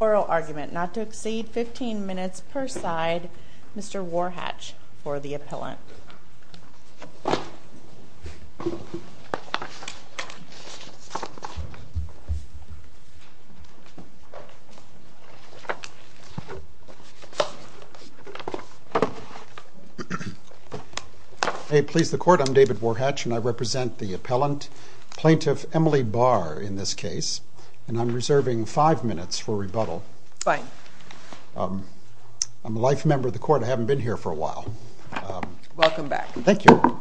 Oral argument not to exceed 15 minutes per side. Mr. Warhatch for the appellant. May it please the court, I'm David Warhatch and I represent the appellant, plaintiff Emily Bahr in this case, and I'm reserving five minutes for rebuttal. Fine. I'm a life member of the court, I haven't been here for a while. Welcome back. Thank you.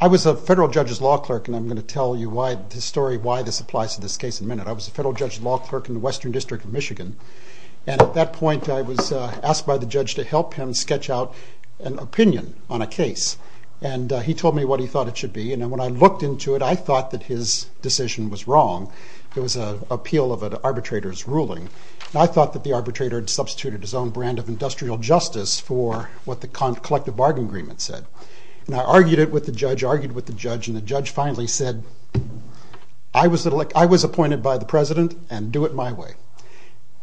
I was a federal judge's law clerk, and I'm going to tell you why this story, why this applies to this case in a minute. I was a federal judge's law clerk in the Western District of Michigan, and at that point I was asked by the judge to help him sketch out an opinion on a case. And he told me what he thought it should be, and when I looked into it I thought that his decision was wrong. It was an appeal of an arbitrator's ruling. And I thought that the arbitrator had substituted his own brand of industrial justice for what the collective bargain agreement said. And I argued it with the judge, argued with the judge, and the judge finally said, I was appointed by the president and do it my way.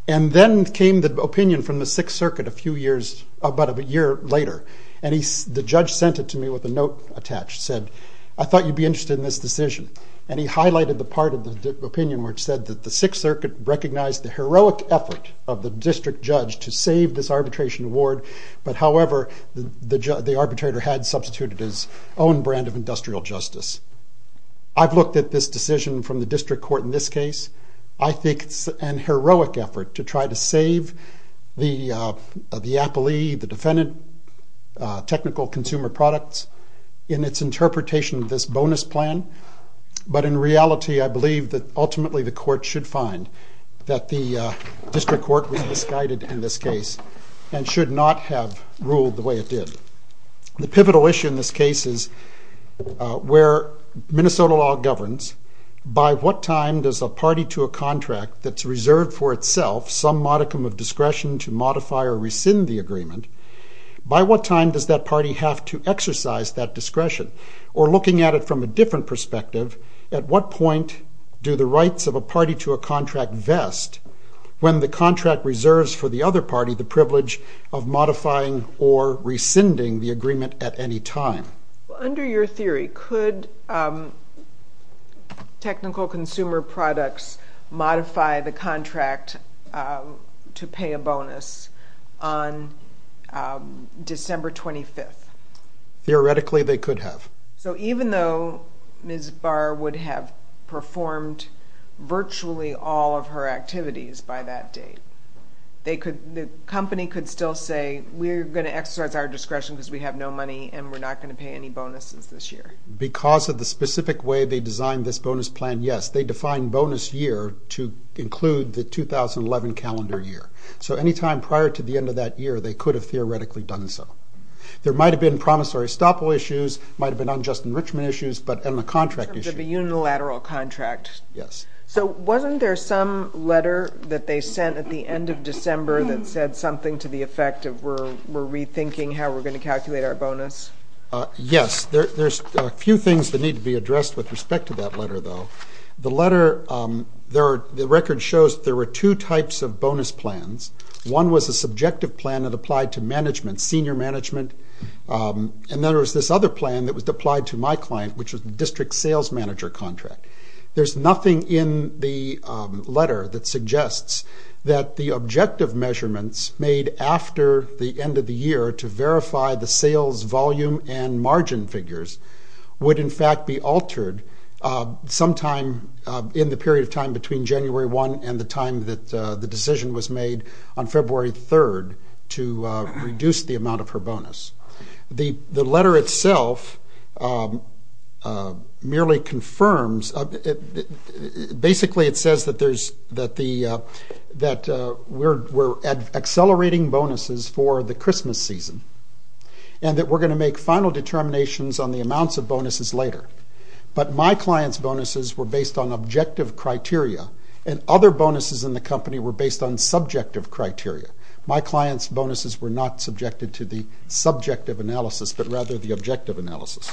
And then came the opinion from the Sixth Circuit a few years, about a year later, and the judge sent it to me with a note attached, said, I thought you'd be interested in this decision. And he highlighted the part of the opinion where it said that the Sixth Circuit recognized the heroic effort of the district judge to save this arbitration award, but however, the arbitrator had substituted his own brand of industrial justice. I've looked at this decision from the district court in this case. I think it's an heroic effort to try to save the appellee, the defendant, technical consumer products in its interpretation of this bonus plan. But in reality, I believe that ultimately the court should find that the district court was misguided in this case and should not have ruled the way it did. The pivotal issue in this case is where Minnesota law governs, by what time does a party to a contract that's reserved for itself some modicum of discretion to modify or rescind the agreement, by what time does that party have to exercise that discretion? Or looking at it from a different perspective, at what point do the rights of a party to a contract vest when the contract reserves for the other party the privilege of modifying or rescinding the agreement at any time? Under your theory, could technical consumer products modify the contract to pay a bonus on December 25th? Theoretically, they could have. So even though Ms. Barr would have performed virtually all of her activities by that date, the company could still say we're going to exercise our discretion because we have no money and we're not going to pay any bonuses this year? Because of the specific way they designed this bonus plan, yes. They defined bonus year to include the 2011 calendar year. So any time prior to the end of that year, they could have theoretically done so. There might have been promissory estoppel issues, might have been unjust enrichment issues, and the contract issue. In terms of a unilateral contract? Yes. So wasn't there some letter that they sent at the end of December that said something to the effect of we're rethinking how we're going to calculate our bonus? Yes. There's a few things that need to be addressed with respect to that letter, though. The letter, the record shows there were two types of bonus plans. One was a subjective plan that applied to management, senior management. And then there was this other plan that was applied to my client, which was the district sales manager contract. There's nothing in the letter that suggests that the objective measurements made after the end of the year to verify the sales volume and margin figures would, in fact, be altered sometime in the period of time between January 1 and the time that the decision was made on February 3 to reduce the amount of her bonus. The letter itself merely confirms, basically it says that we're accelerating bonuses for the Christmas season and that we're going to make final determinations on the amounts of bonuses later. But my client's bonuses were based on objective criteria, and other bonuses in the company were based on subjective criteria. My client's bonuses were not subjected to the subjective analysis, but rather the objective analysis.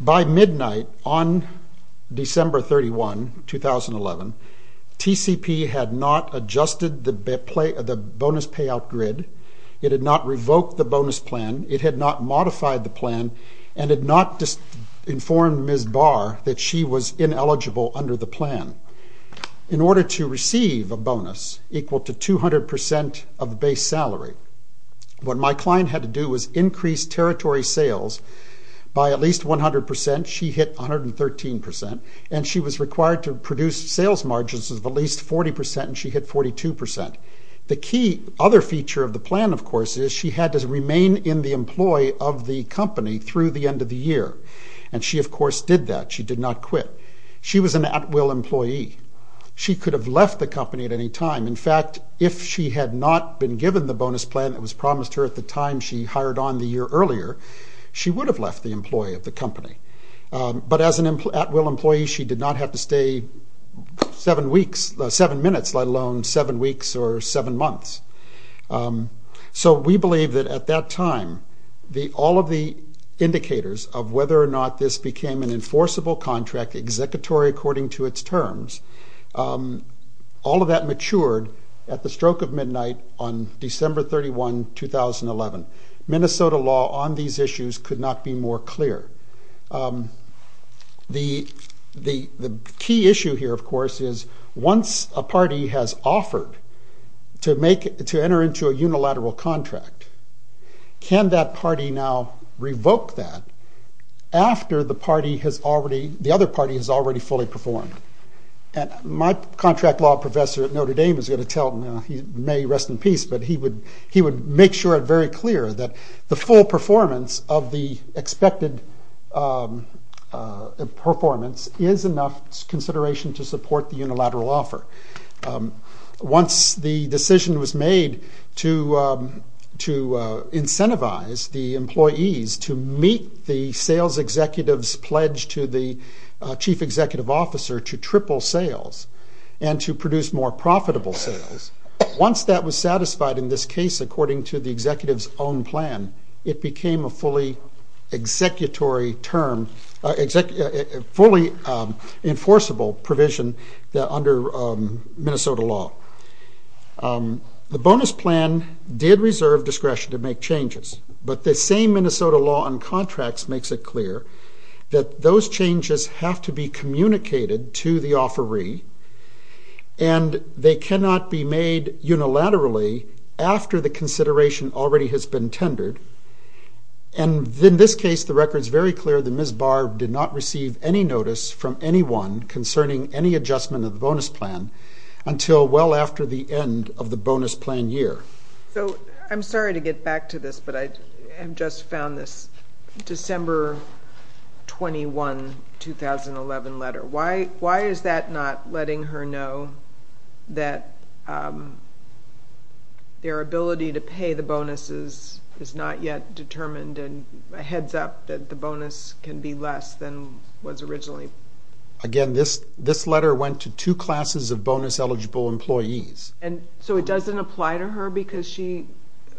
By midnight on December 31, 2011, TCP had not adjusted the bonus payout grid. It had not revoked the bonus plan. It had not modified the plan and had not informed Ms. Barr that she was ineligible under the plan. In order to receive a bonus equal to 200% of the base salary, what my client had to do was increase territory sales by at least 100%. She hit 113%, and she was required to produce sales margins of at least 40%, and she hit 42%. The key other feature of the plan, of course, is she had to remain in the employ of the company through the end of the year, and she, of course, did that. She did not quit. She was an at-will employee. She could have left the company at any time. In fact, if she had not been given the bonus plan that was promised her at the time she hired on the year earlier, she would have left the employ of the company. But as an at-will employee, she did not have to stay seven minutes, let alone seven weeks or seven months. So we believe that at that time, all of the indicators of whether or not this became an enforceable contract, executory according to its terms, all of that matured at the stroke of midnight on December 31, 2011. Minnesota law on these issues could not be more clear. The key issue here, of course, is once a party has offered to enter into a unilateral contract, can that party now revoke that after the other party has already fully performed? And my contract law professor at Notre Dame is going to tell, he may rest in peace, but he would make sure it very clear that the full performance of the expected performance is enough consideration to support the unilateral offer. Once the decision was made to incentivize the employees to meet the sales executive's pledge to the chief executive officer to triple sales and to produce more profitable sales, once that was satisfied in this case according to the executive's own plan, it became a fully enforceable provision under Minnesota law. The bonus plan did reserve discretion to make changes, but the same Minnesota law on contracts makes it clear that those changes have to be communicated to the offeree and they cannot be made unilaterally after the consideration already has been tendered. And in this case, the record is very clear that Ms. Barr did not receive any notice from anyone concerning any adjustment of the bonus plan until well after the end of the bonus plan year. So I'm sorry to get back to this, but I have just found this December 21, 2011 letter. Why is that not letting her know that their ability to pay the bonuses is not yet determined and a heads up that the bonus can be less than was originally? Again, this letter went to two classes of bonus-eligible employees. And so it doesn't apply to her because she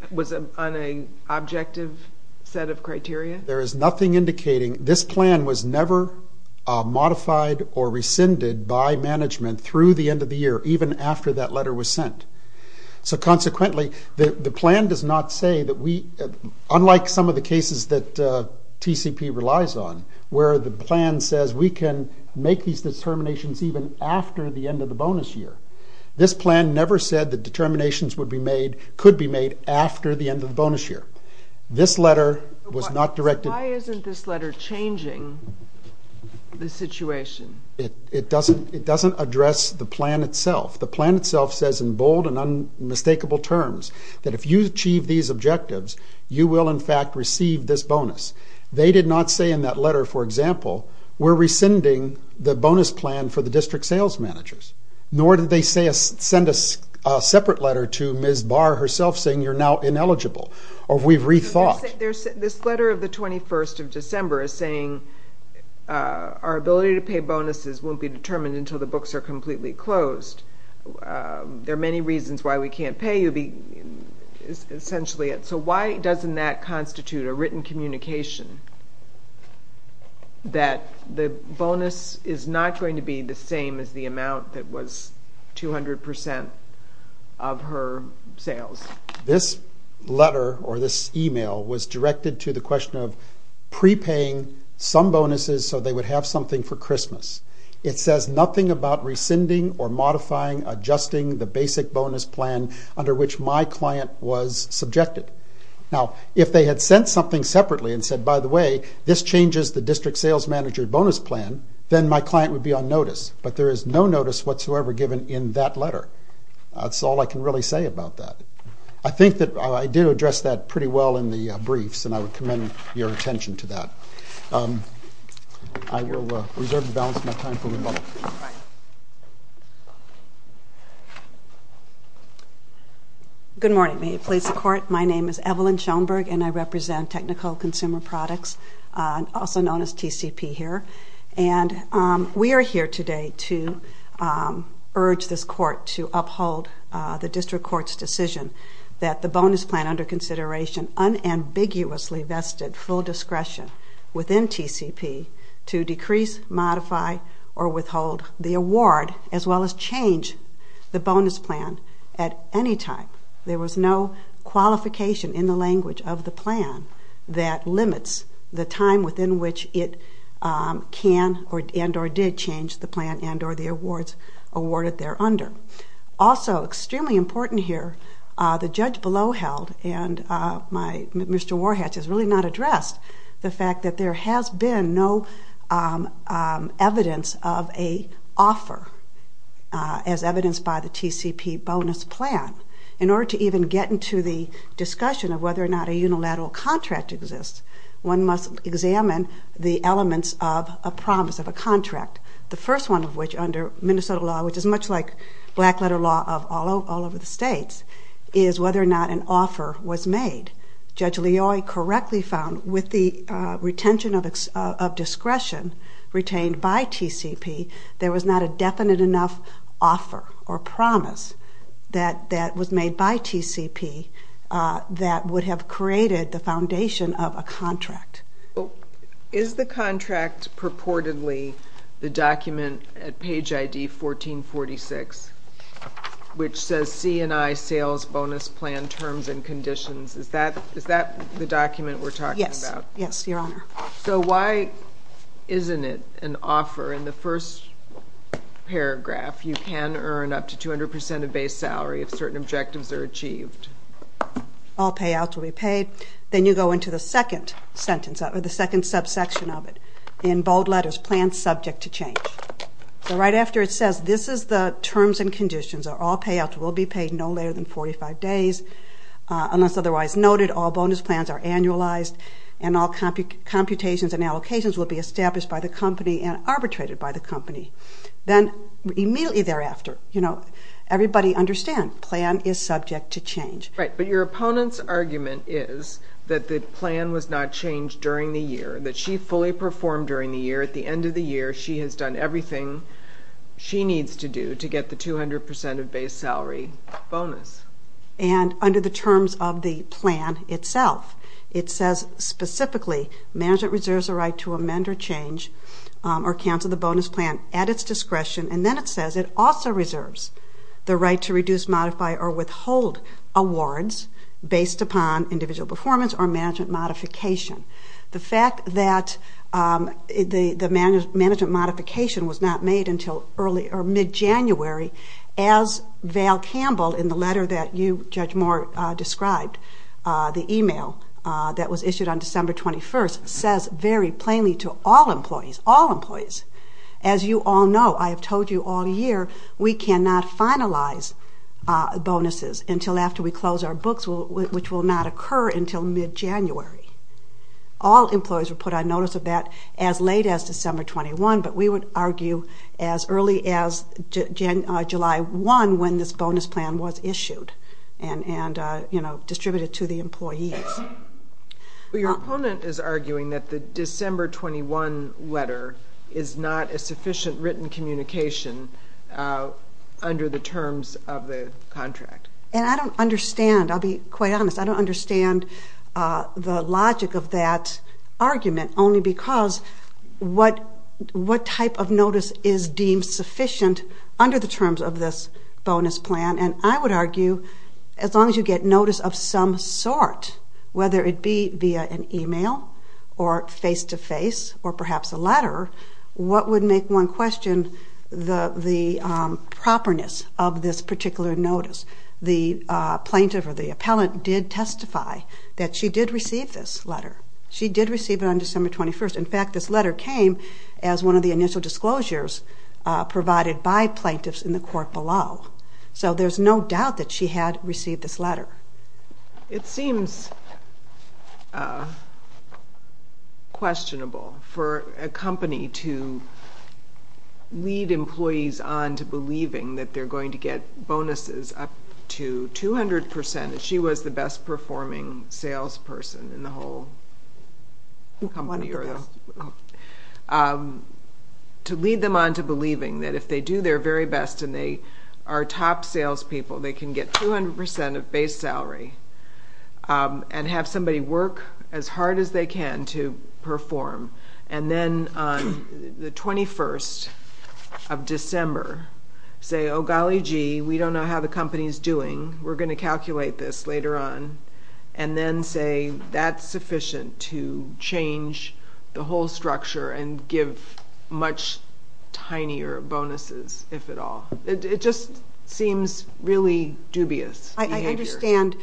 was on an objective set of criteria? There is nothing indicating this plan was never modified or rescinded by management through the end of the year, even after that letter was sent. So consequently, the plan does not say that we, unlike some of the cases that TCP relies on, where the plan says we can make these determinations even after the end of the bonus year. This plan never said that determinations could be made after the end of the bonus year. Why isn't this letter changing the situation? It doesn't address the plan itself. The plan itself says in bold and unmistakable terms that if you achieve these objectives, you will in fact receive this bonus. They did not say in that letter, for example, we're rescinding the bonus plan for the district sales managers. Nor did they send a separate letter to Ms. Barr herself saying you're now ineligible, or we've rethought. This letter of the 21st of December is saying our ability to pay bonuses won't be determined until the books are completely closed. There are many reasons why we can't pay you, essentially. So why doesn't that constitute a written communication that the bonus is not going to be the same as the amount that was 200% of her sales? This letter, or this email, was directed to the question of prepaying some bonuses so they would have something for Christmas. It says nothing about rescinding or modifying, adjusting the basic bonus plan under which my client was subjected. Now, if they had sent something separately and said, by the way, this changes the district sales manager bonus plan, then my client would be on notice. But there is no notice whatsoever given in that letter. That's all I can really say about that. I think that I did address that pretty well in the briefs, and I would commend your attention to that. I will reserve the balance of my time for rebuttal. Good morning. May it please the Court. My name is Evelyn Schoenberg, and I represent Technical Consumer Products, also known as TCP here. We are here today to urge this Court to uphold the district court's decision that the bonus plan under consideration unambiguously vested full discretion within TCP to decrease, modify, or withhold the award, as well as change the bonus plan at any time. There was no qualification in the language of the plan that limits the time within which it can and or did change the plan and or the awards awarded thereunder. Also, extremely important here, the judge below held, and Mr. Warhatch has really not addressed the fact that there has been no evidence of an offer as evidenced by the TCP bonus plan. In order to even get into the discussion of whether or not a unilateral contract exists, one must examine the elements of a promise of a contract, the first one of which under Minnesota law, which is much like black-letter law of all over the states, is whether or not an offer was made. Judge Leoy correctly found with the retention of discretion retained by TCP, there was not a definite enough offer or promise that was made by TCP that would have created the foundation of a contract. Is the contract purportedly the document at page ID 1446, which says C&I sales bonus plan terms and conditions? Is that the document we're talking about? Yes. Yes, Your Honor. So why isn't it an offer in the first paragraph, you can earn up to 200% of base salary if certain objectives are achieved? All payouts will be paid. Then you go into the second sentence, or the second subsection of it, in bold letters, plan subject to change. So right after it says this is the terms and conditions, all payouts will be paid no later than 45 days, unless otherwise noted, all bonus plans are annualized, and all computations and allocations will be established by the company and arbitrated by the company. Then immediately thereafter, you know, everybody understands, plan is subject to change. Right, but your opponent's argument is that the plan was not changed during the year, that she fully performed during the year, at the end of the year she has done everything she needs to do to get the 200% of base salary bonus. And under the terms of the plan itself, it says specifically, management reserves the right to amend or change or cancel the bonus plan at its discretion, and then it says it also reserves the right to reduce, modify, or withhold awards based upon individual performance or management modification. The fact that the management modification was not made until early or mid-January, as Val Campbell, in the letter that you, Judge Moore, described, the email that was issued on December 21st, says very plainly to all employees, all employees, as you all know, I have told you all year, we cannot finalize bonuses until after we close our books, which will not occur until mid-January. All employees were put on notice of that as late as December 21, but we would argue as early as July 1 when this bonus plan was issued and distributed to the employees. Your opponent is arguing that the December 21 letter is not a sufficient written communication under the terms of the contract. And I don't understand, I'll be quite honest, I don't understand the logic of that argument only because what type of notice is deemed sufficient under the terms of this bonus plan? And I would argue as long as you get notice of some sort, whether it be via an email or face-to-face or perhaps a letter, what would make one question the properness of this particular notice? The plaintiff or the appellant did testify that she did receive this letter. She did receive it on December 21. In fact, this letter came as one of the initial disclosures provided by plaintiffs in the court below. So there's no doubt that she had received this letter. It seems questionable for a company to lead employees on to believing that they're going to get bonuses up to 200% and that she was the best-performing salesperson in the whole company. To lead them on to believing that if they do their very best and they are top salespeople, they can get 200% of base salary and have somebody work as hard as they can to perform and then on the 21st of December say, oh golly gee, we don't know how the company is doing, we're going to calculate this later on, and then say that's sufficient to change the whole structure and give much tinier bonuses, if at all. It just seems really dubious behavior. I understand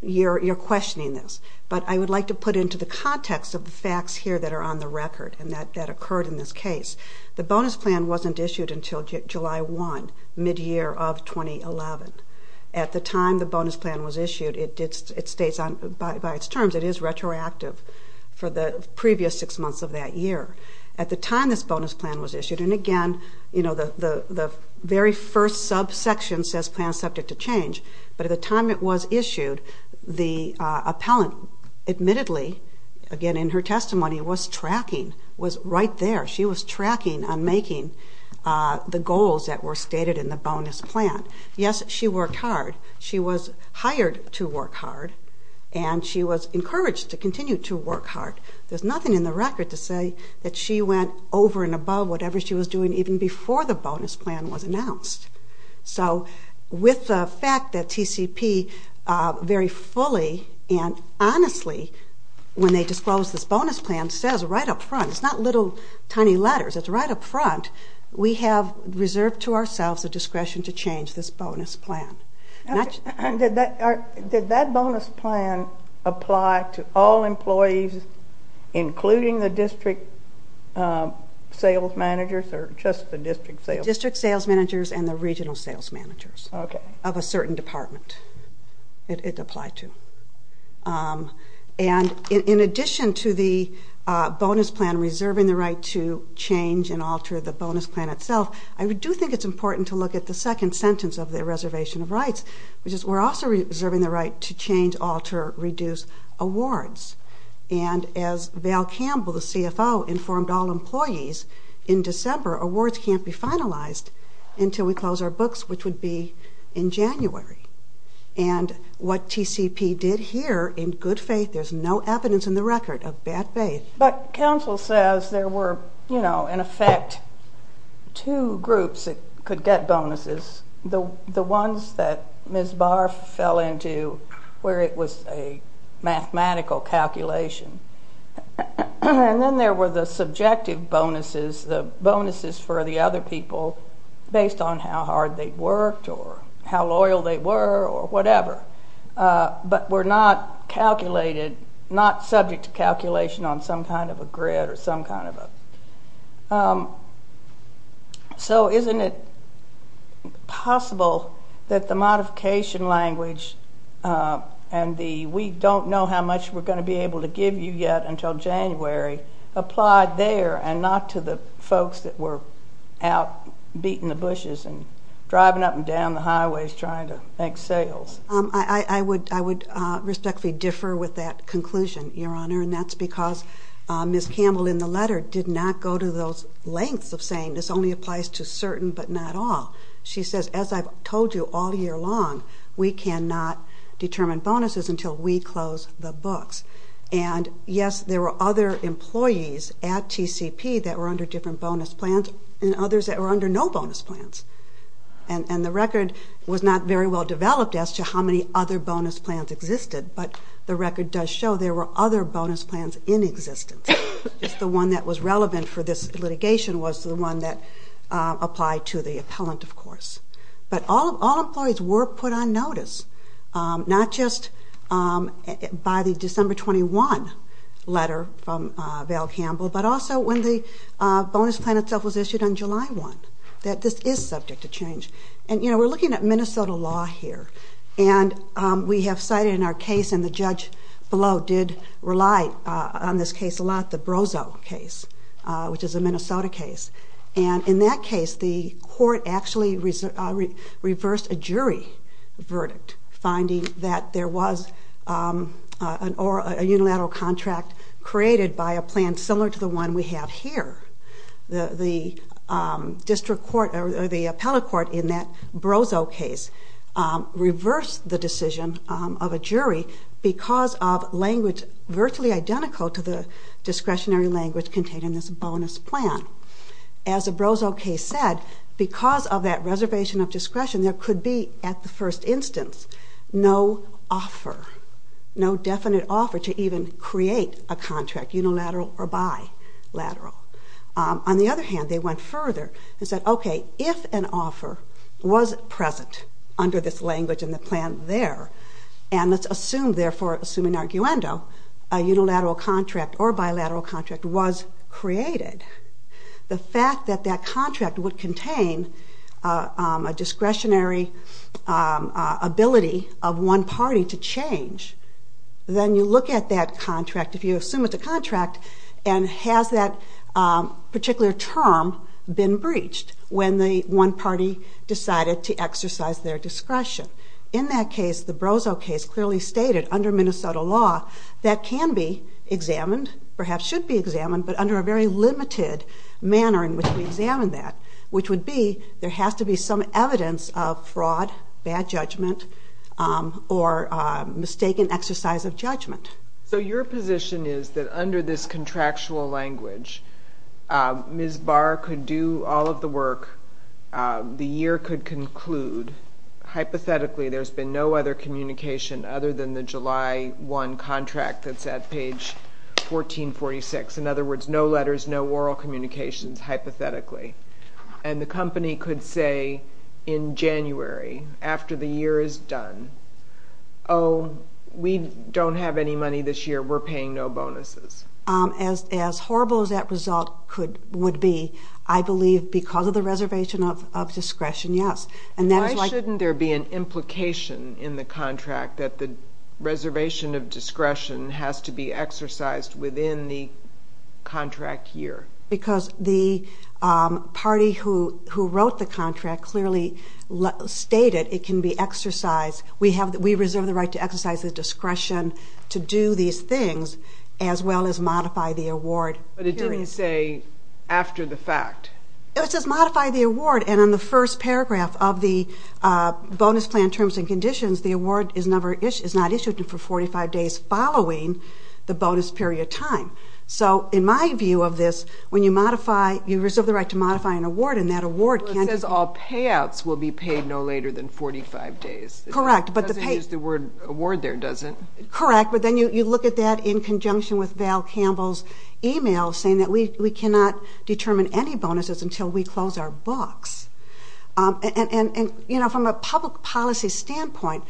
you're questioning this, but I would like to put into the context of the facts here that are on the record and that occurred in this case. The bonus plan wasn't issued until July 1, mid-year of 2011. At the time the bonus plan was issued, it states by its terms it is retroactive for the previous six months of that year. At the time this bonus plan was issued, and again the very first subsection says plan subject to change, but at the time it was issued, the appellant admittedly, again in her testimony, was tracking, was right there. She was tracking on making the goals that were stated in the bonus plan. Yes, she worked hard. She was hired to work hard, and she was encouraged to continue to work hard. There's nothing in the record to say that she went over and above whatever she was doing even before the bonus plan was announced. So with the fact that TCP very fully and honestly, when they disclosed this bonus plan, says right up front, it's not little tiny letters, it's right up front, we have reserved to ourselves the discretion to change this bonus plan. Did that bonus plan apply to all employees including the district sales managers or just the district sales managers? District sales managers and the regional sales managers of a certain department it applied to. And in addition to the bonus plan reserving the right to change and alter the bonus plan itself, I do think it's important to look at the second sentence of the Reservation of Rights, which is, we're also reserving the right to change, alter, reduce awards. And as Val Campbell, the CFO, informed all employees, in December awards can't be finalized until we close our books, which would be in January. And what TCP did here, in good faith, there's no evidence in the record of bad faith. But counsel says there were, you know, in effect, two groups that could get bonuses. The ones that Ms. Barr fell into where it was a mathematical calculation. And then there were the subjective bonuses, the bonuses for the other people based on how hard they worked or how loyal they were or whatever. But were not calculated, not subject to calculation on some kind of a grid or some kind of a... So isn't it possible that the modification language and the we don't know how much we're going to be able to give you yet until January applied there and not to the folks that were out beating the bushes and driving up and down the highways trying to make sales? I would respectfully differ with that conclusion, Your Honor, and that's because Ms. Campbell in the letter did not go to those lengths of saying this only applies to certain but not all. She says, as I've told you all year long, we cannot determine bonuses until we close the books. And, yes, there were other employees at TCP that were under different bonus plans and others that were under no bonus plans. And the record was not very well developed as to how many other bonus plans existed, but the record does show there were other bonus plans in existence. Just the one that was relevant for this litigation was the one that applied to the appellant, of course. But all employees were put on notice, not just by the December 21 letter from Val Campbell, but also when the bonus plan itself was issued on July 1, that this is subject to change. And, you know, we're looking at Minnesota law here, and we have cited in our case, and the judge below did rely on this case a lot, the Brozo case, which is a Minnesota case. And in that case, the court actually reversed a jury verdict, finding that there was a unilateral contract created by a plan similar to the one we have here. The district court or the appellate court in that Brozo case reversed the decision of a jury because of language virtually identical to the discretionary language contained in this bonus plan. As the Brozo case said, because of that reservation of discretion, there could be, at the first instance, no offer, no definite offer to even create a contract, unilateral or bilateral. On the other hand, they went further and said, okay, if an offer was present under this language in the plan there, and let's assume, therefore, assuming arguendo, a unilateral contract or bilateral contract was created, the fact that that contract would contain a discretionary ability of one party to change, then you look at that contract, if you assume it's a contract, and has that particular term been breached when the one party decided to exercise their discretion. In that case, the Brozo case clearly stated under Minnesota law that can be examined, perhaps should be examined, but under a very limited manner in which we examine that, which would be there has to be some evidence of fraud, bad judgment, or mistaken exercise of judgment. So your position is that under this contractual language, Ms. Barr could do all of the work, the year could conclude, hypothetically there's been no other communication other than the July 1 contract that's at page 1446. In other words, no letters, no oral communications, hypothetically. And the company could say in January, after the year is done, oh, we don't have any money this year, we're paying no bonuses. As horrible as that result would be, I believe because of the reservation of discretion, yes. Why shouldn't there be an implication in the contract that the reservation of discretion has to be exercised within the contract year? Because the party who wrote the contract clearly stated it can be exercised. We reserve the right to exercise the discretion to do these things as well as modify the award period. But it didn't say after the fact. It says modify the award. And in the first paragraph of the Bonus Plan Terms and Conditions, the award is not issued for 45 days following the bonus period time. So in my view of this, when you modify, you reserve the right to modify an award and that award can't be... It says all payouts will be paid no later than 45 days. Correct. It doesn't use the word award there, does it? Correct. But then you look at that in conjunction with Val Campbell's email saying that we cannot determine any bonuses until we close our books. And, you know, from a public policy standpoint,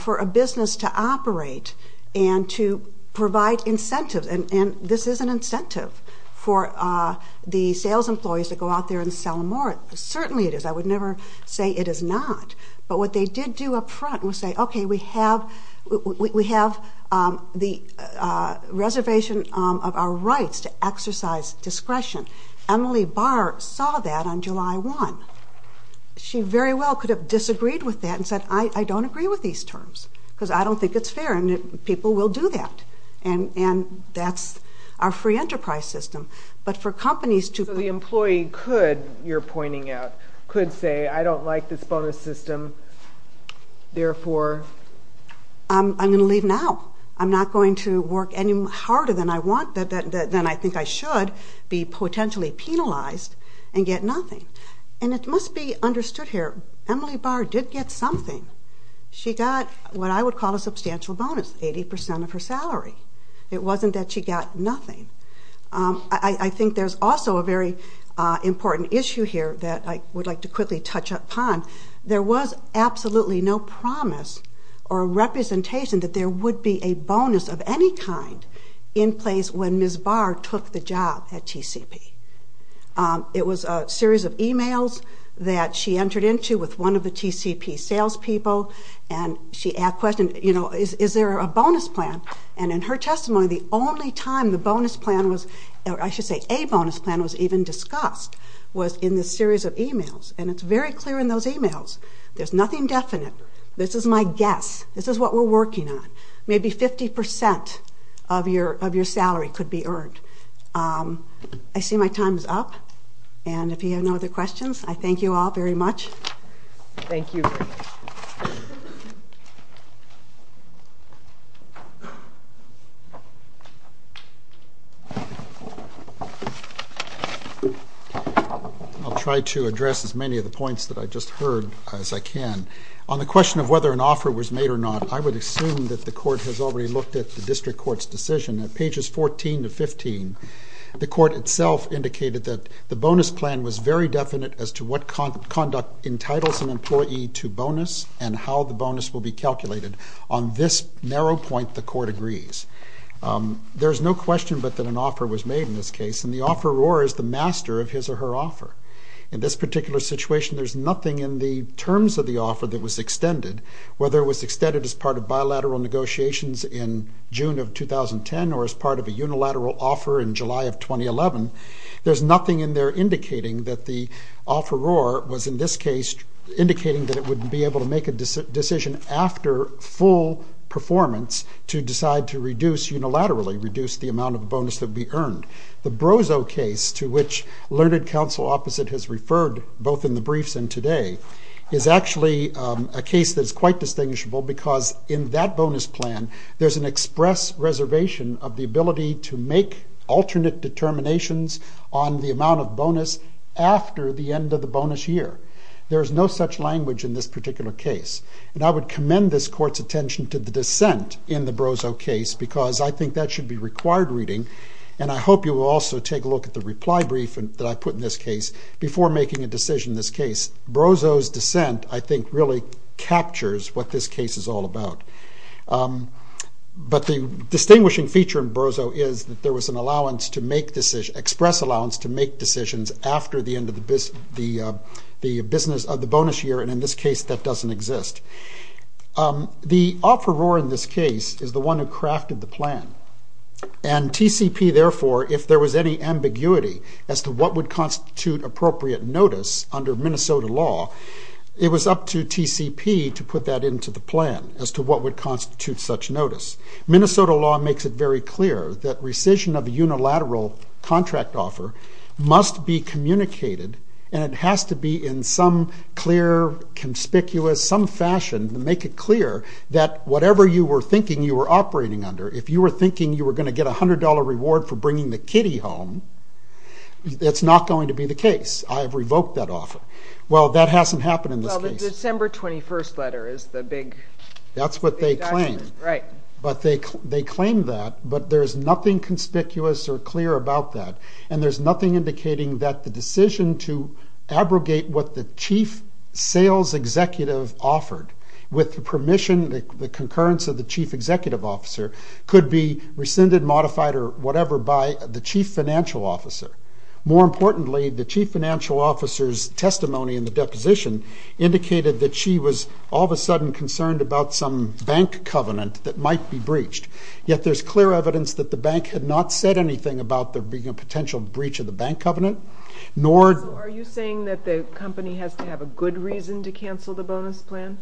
for a business to operate and to provide incentives, and this is an incentive for the sales employees to go out there and sell more, certainly it is. I would never say it is not. But what they did do up front was say, okay, we have the reservation of our rights to exercise discretion. Emily Barr saw that on July 1. She very well could have disagreed with that and said, I don't agree with these terms because I don't think it's fair and people will do that. And that's our free enterprise system. But for companies to... So the employee could, you're pointing out, could say I don't like this bonus system, therefore... I'm going to leave now. I'm not going to work any harder than I think I should be potentially penalized and get nothing. And it must be understood here, Emily Barr did get something. She got what I would call a substantial bonus, 80% of her salary. It wasn't that she got nothing. I think there's also a very important issue here that I would like to quickly touch upon. There was absolutely no promise or representation that there would be a bonus of any kind in place when Ms. Barr took the job at TCP. It was a series of e-mails that she entered into with one of the TCP salespeople and she asked questions, you know, is there a bonus plan? And in her testimony, the only time the bonus plan was, or I should say a bonus plan was even discussed was in this series of e-mails. And it's very clear in those e-mails. There's nothing definite. This is my guess. This is what we're working on. Maybe 50% of your salary could be earned. I see my time is up. And if you have no other questions, I thank you all very much. Thank you. I'll try to address as many of the points that I just heard as I can. On the question of whether an offer was made or not, I would assume that the court has already looked at the district court's decision. At pages 14 to 15, the court itself indicated that the bonus plan was very definite as to what conduct entitles an employee to bonus and how the bonus will be calculated. On this narrow point, the court agrees. There's no question but that an offer was made in this case, and the offeror is the master of his or her offer. In this particular situation, there's nothing in the terms of the offer that was extended. Whether it was extended as part of bilateral negotiations in June of 2010 or as part of a unilateral offer in July of 2011, there's nothing in there indicating that the offeror was, in this case, indicating that it would be able to make a decision after full performance to decide to reduce unilaterally, reduce the amount of bonus that would be earned. The Brozo case, to which Learned Counsel opposite has referred, both in the briefs and today, is actually a case that is quite distinguishable because in that bonus plan, there's an express reservation of the ability to make alternate determinations on the amount of bonus after the end of the bonus year. There is no such language in this particular case, and I would commend this court's attention to the dissent in the Brozo case because I think that should be required reading, and I hope you will also take a look at the reply brief that I put in this case before making a decision in this case. Brozo's dissent, I think, really captures what this case is all about. But the distinguishing feature in Brozo is that there was an allowance to make, express allowance to make decisions after the end of the bonus year, and in this case, that doesn't exist. The offeror in this case is the one who crafted the plan, and TCP, therefore, if there was any ambiguity as to what would constitute appropriate notice under Minnesota law, it was up to TCP to put that into the plan as to what would constitute such notice. Minnesota law makes it very clear that rescission of a unilateral contract offer must be communicated, and it has to be in some clear, conspicuous, some fashion to make it clear that whatever you were thinking you were operating under, if you were thinking you were going to get a $100 reward for bringing the kitty home, that's not going to be the case. I have revoked that offer. Well, that hasn't happened in this case. Well, the December 21st letter is the big adjustment. That's what they claim. But they claim that, but there's nothing conspicuous or clear about that, and there's nothing indicating that the decision to abrogate what the chief sales executive offered with the permission, the concurrence of the chief executive officer, could be rescinded, modified, or whatever by the chief financial officer. More importantly, the chief financial officer's testimony in the deposition indicated that she was all of a sudden concerned about some bank covenant that might be breached, yet there's clear evidence that the bank had not said anything about there being a potential breach of the bank covenant, nor... So are you saying that the company has to have a good reason to cancel the bonus plan?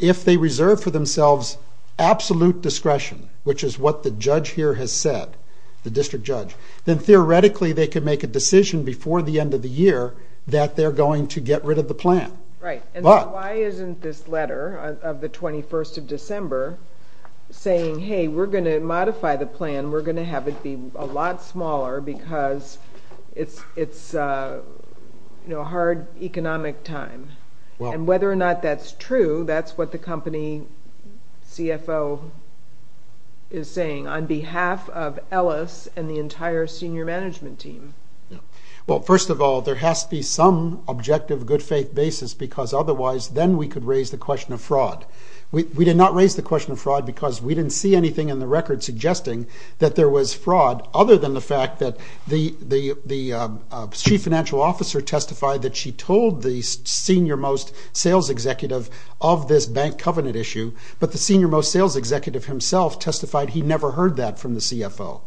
If they reserve for themselves absolute discretion, which is what the judge here has said, the district judge, then theoretically they can make a decision before the end of the year that they're going to get rid of the plan. Right, and then why isn't this letter of the 21st of December saying, hey, we're going to modify the plan, we're going to have it be a lot smaller because it's a hard economic time, and whether or not that's true, that's what the company CFO is saying on behalf of Ellis and the entire senior management team. Well, first of all, there has to be some objective, good faith basis because otherwise then we could raise the question of fraud. We did not raise the question of fraud because we didn't see anything in the record suggesting that there was fraud, other than the fact that the chief financial officer testified that she told the senior most sales executive of this bank covenant issue, but the senior most sales executive himself testified he never heard that from the CFO.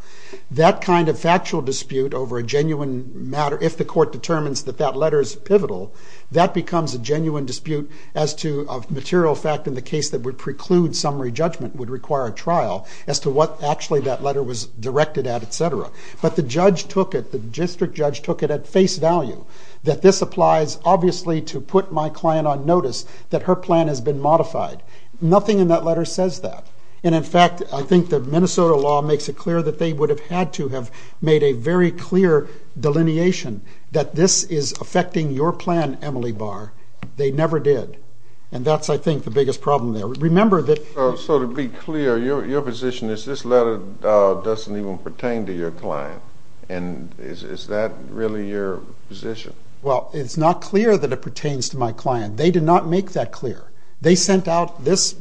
That kind of factual dispute over a genuine matter, if the court determines that that letter is pivotal, that becomes a genuine dispute as to a material fact in the case that would preclude summary judgment would require a trial as to what actually that letter was directed at, et cetera. But the judge took it, the district judge took it at face value that this applies obviously to put my client on notice that her plan has been modified. Nothing in that letter says that. And, in fact, I think the Minnesota law makes it clear that they would have had to have made a very clear delineation that this is affecting your plan, Emily Barr. They never did. And that's, I think, the biggest problem there. So to be clear, your position is this letter doesn't even pertain to your client. And is that really your position? Well, it's not clear that it pertains to my client. They did not make that clear. They sent out this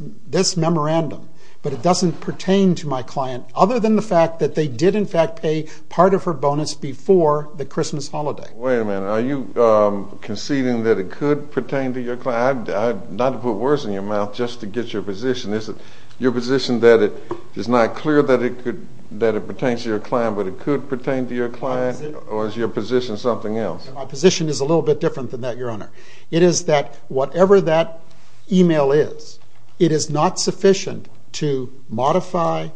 memorandum, but it doesn't pertain to my client other than the fact that they did, in fact, pay part of her bonus before the Christmas holiday. Wait a minute. Are you conceding that it could pertain to your client? Not to put words in your mouth just to get your position. Is it your position that it's not clear that it pertains to your client but it could pertain to your client? Or is your position something else? My position is a little bit different than that, Your Honor. It is that whatever that email is, it is not sufficient to modify,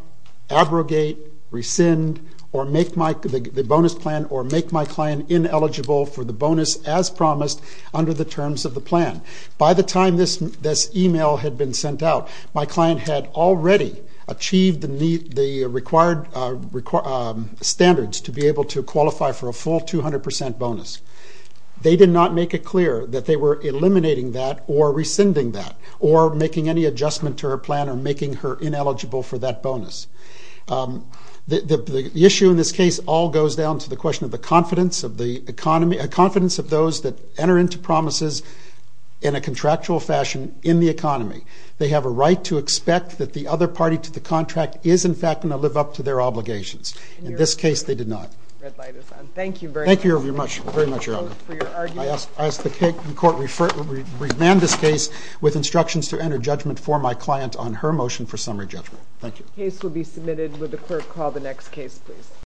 abrogate, rescind, or make the bonus plan or make my client ineligible for the bonus as promised under the terms of the plan. By the time this email had been sent out, my client had already achieved the required standards to be able to qualify for a full 200% bonus. They did not make it clear that they were eliminating that or rescinding that or making any adjustment to her plan or making her ineligible for that bonus. The issue in this case all goes down to the question of the confidence of those that enter into promises in a contractual fashion in the economy. They have a right to expect that the other party to the contract is in fact going to live up to their obligations. In this case, they did not. Thank you very much. Thank you very much, Your Honor. I ask the court to remand this case with instructions to enter judgment for my client on her motion for summary judgment. Thank you. The case will be submitted. Would the clerk call the next case, please?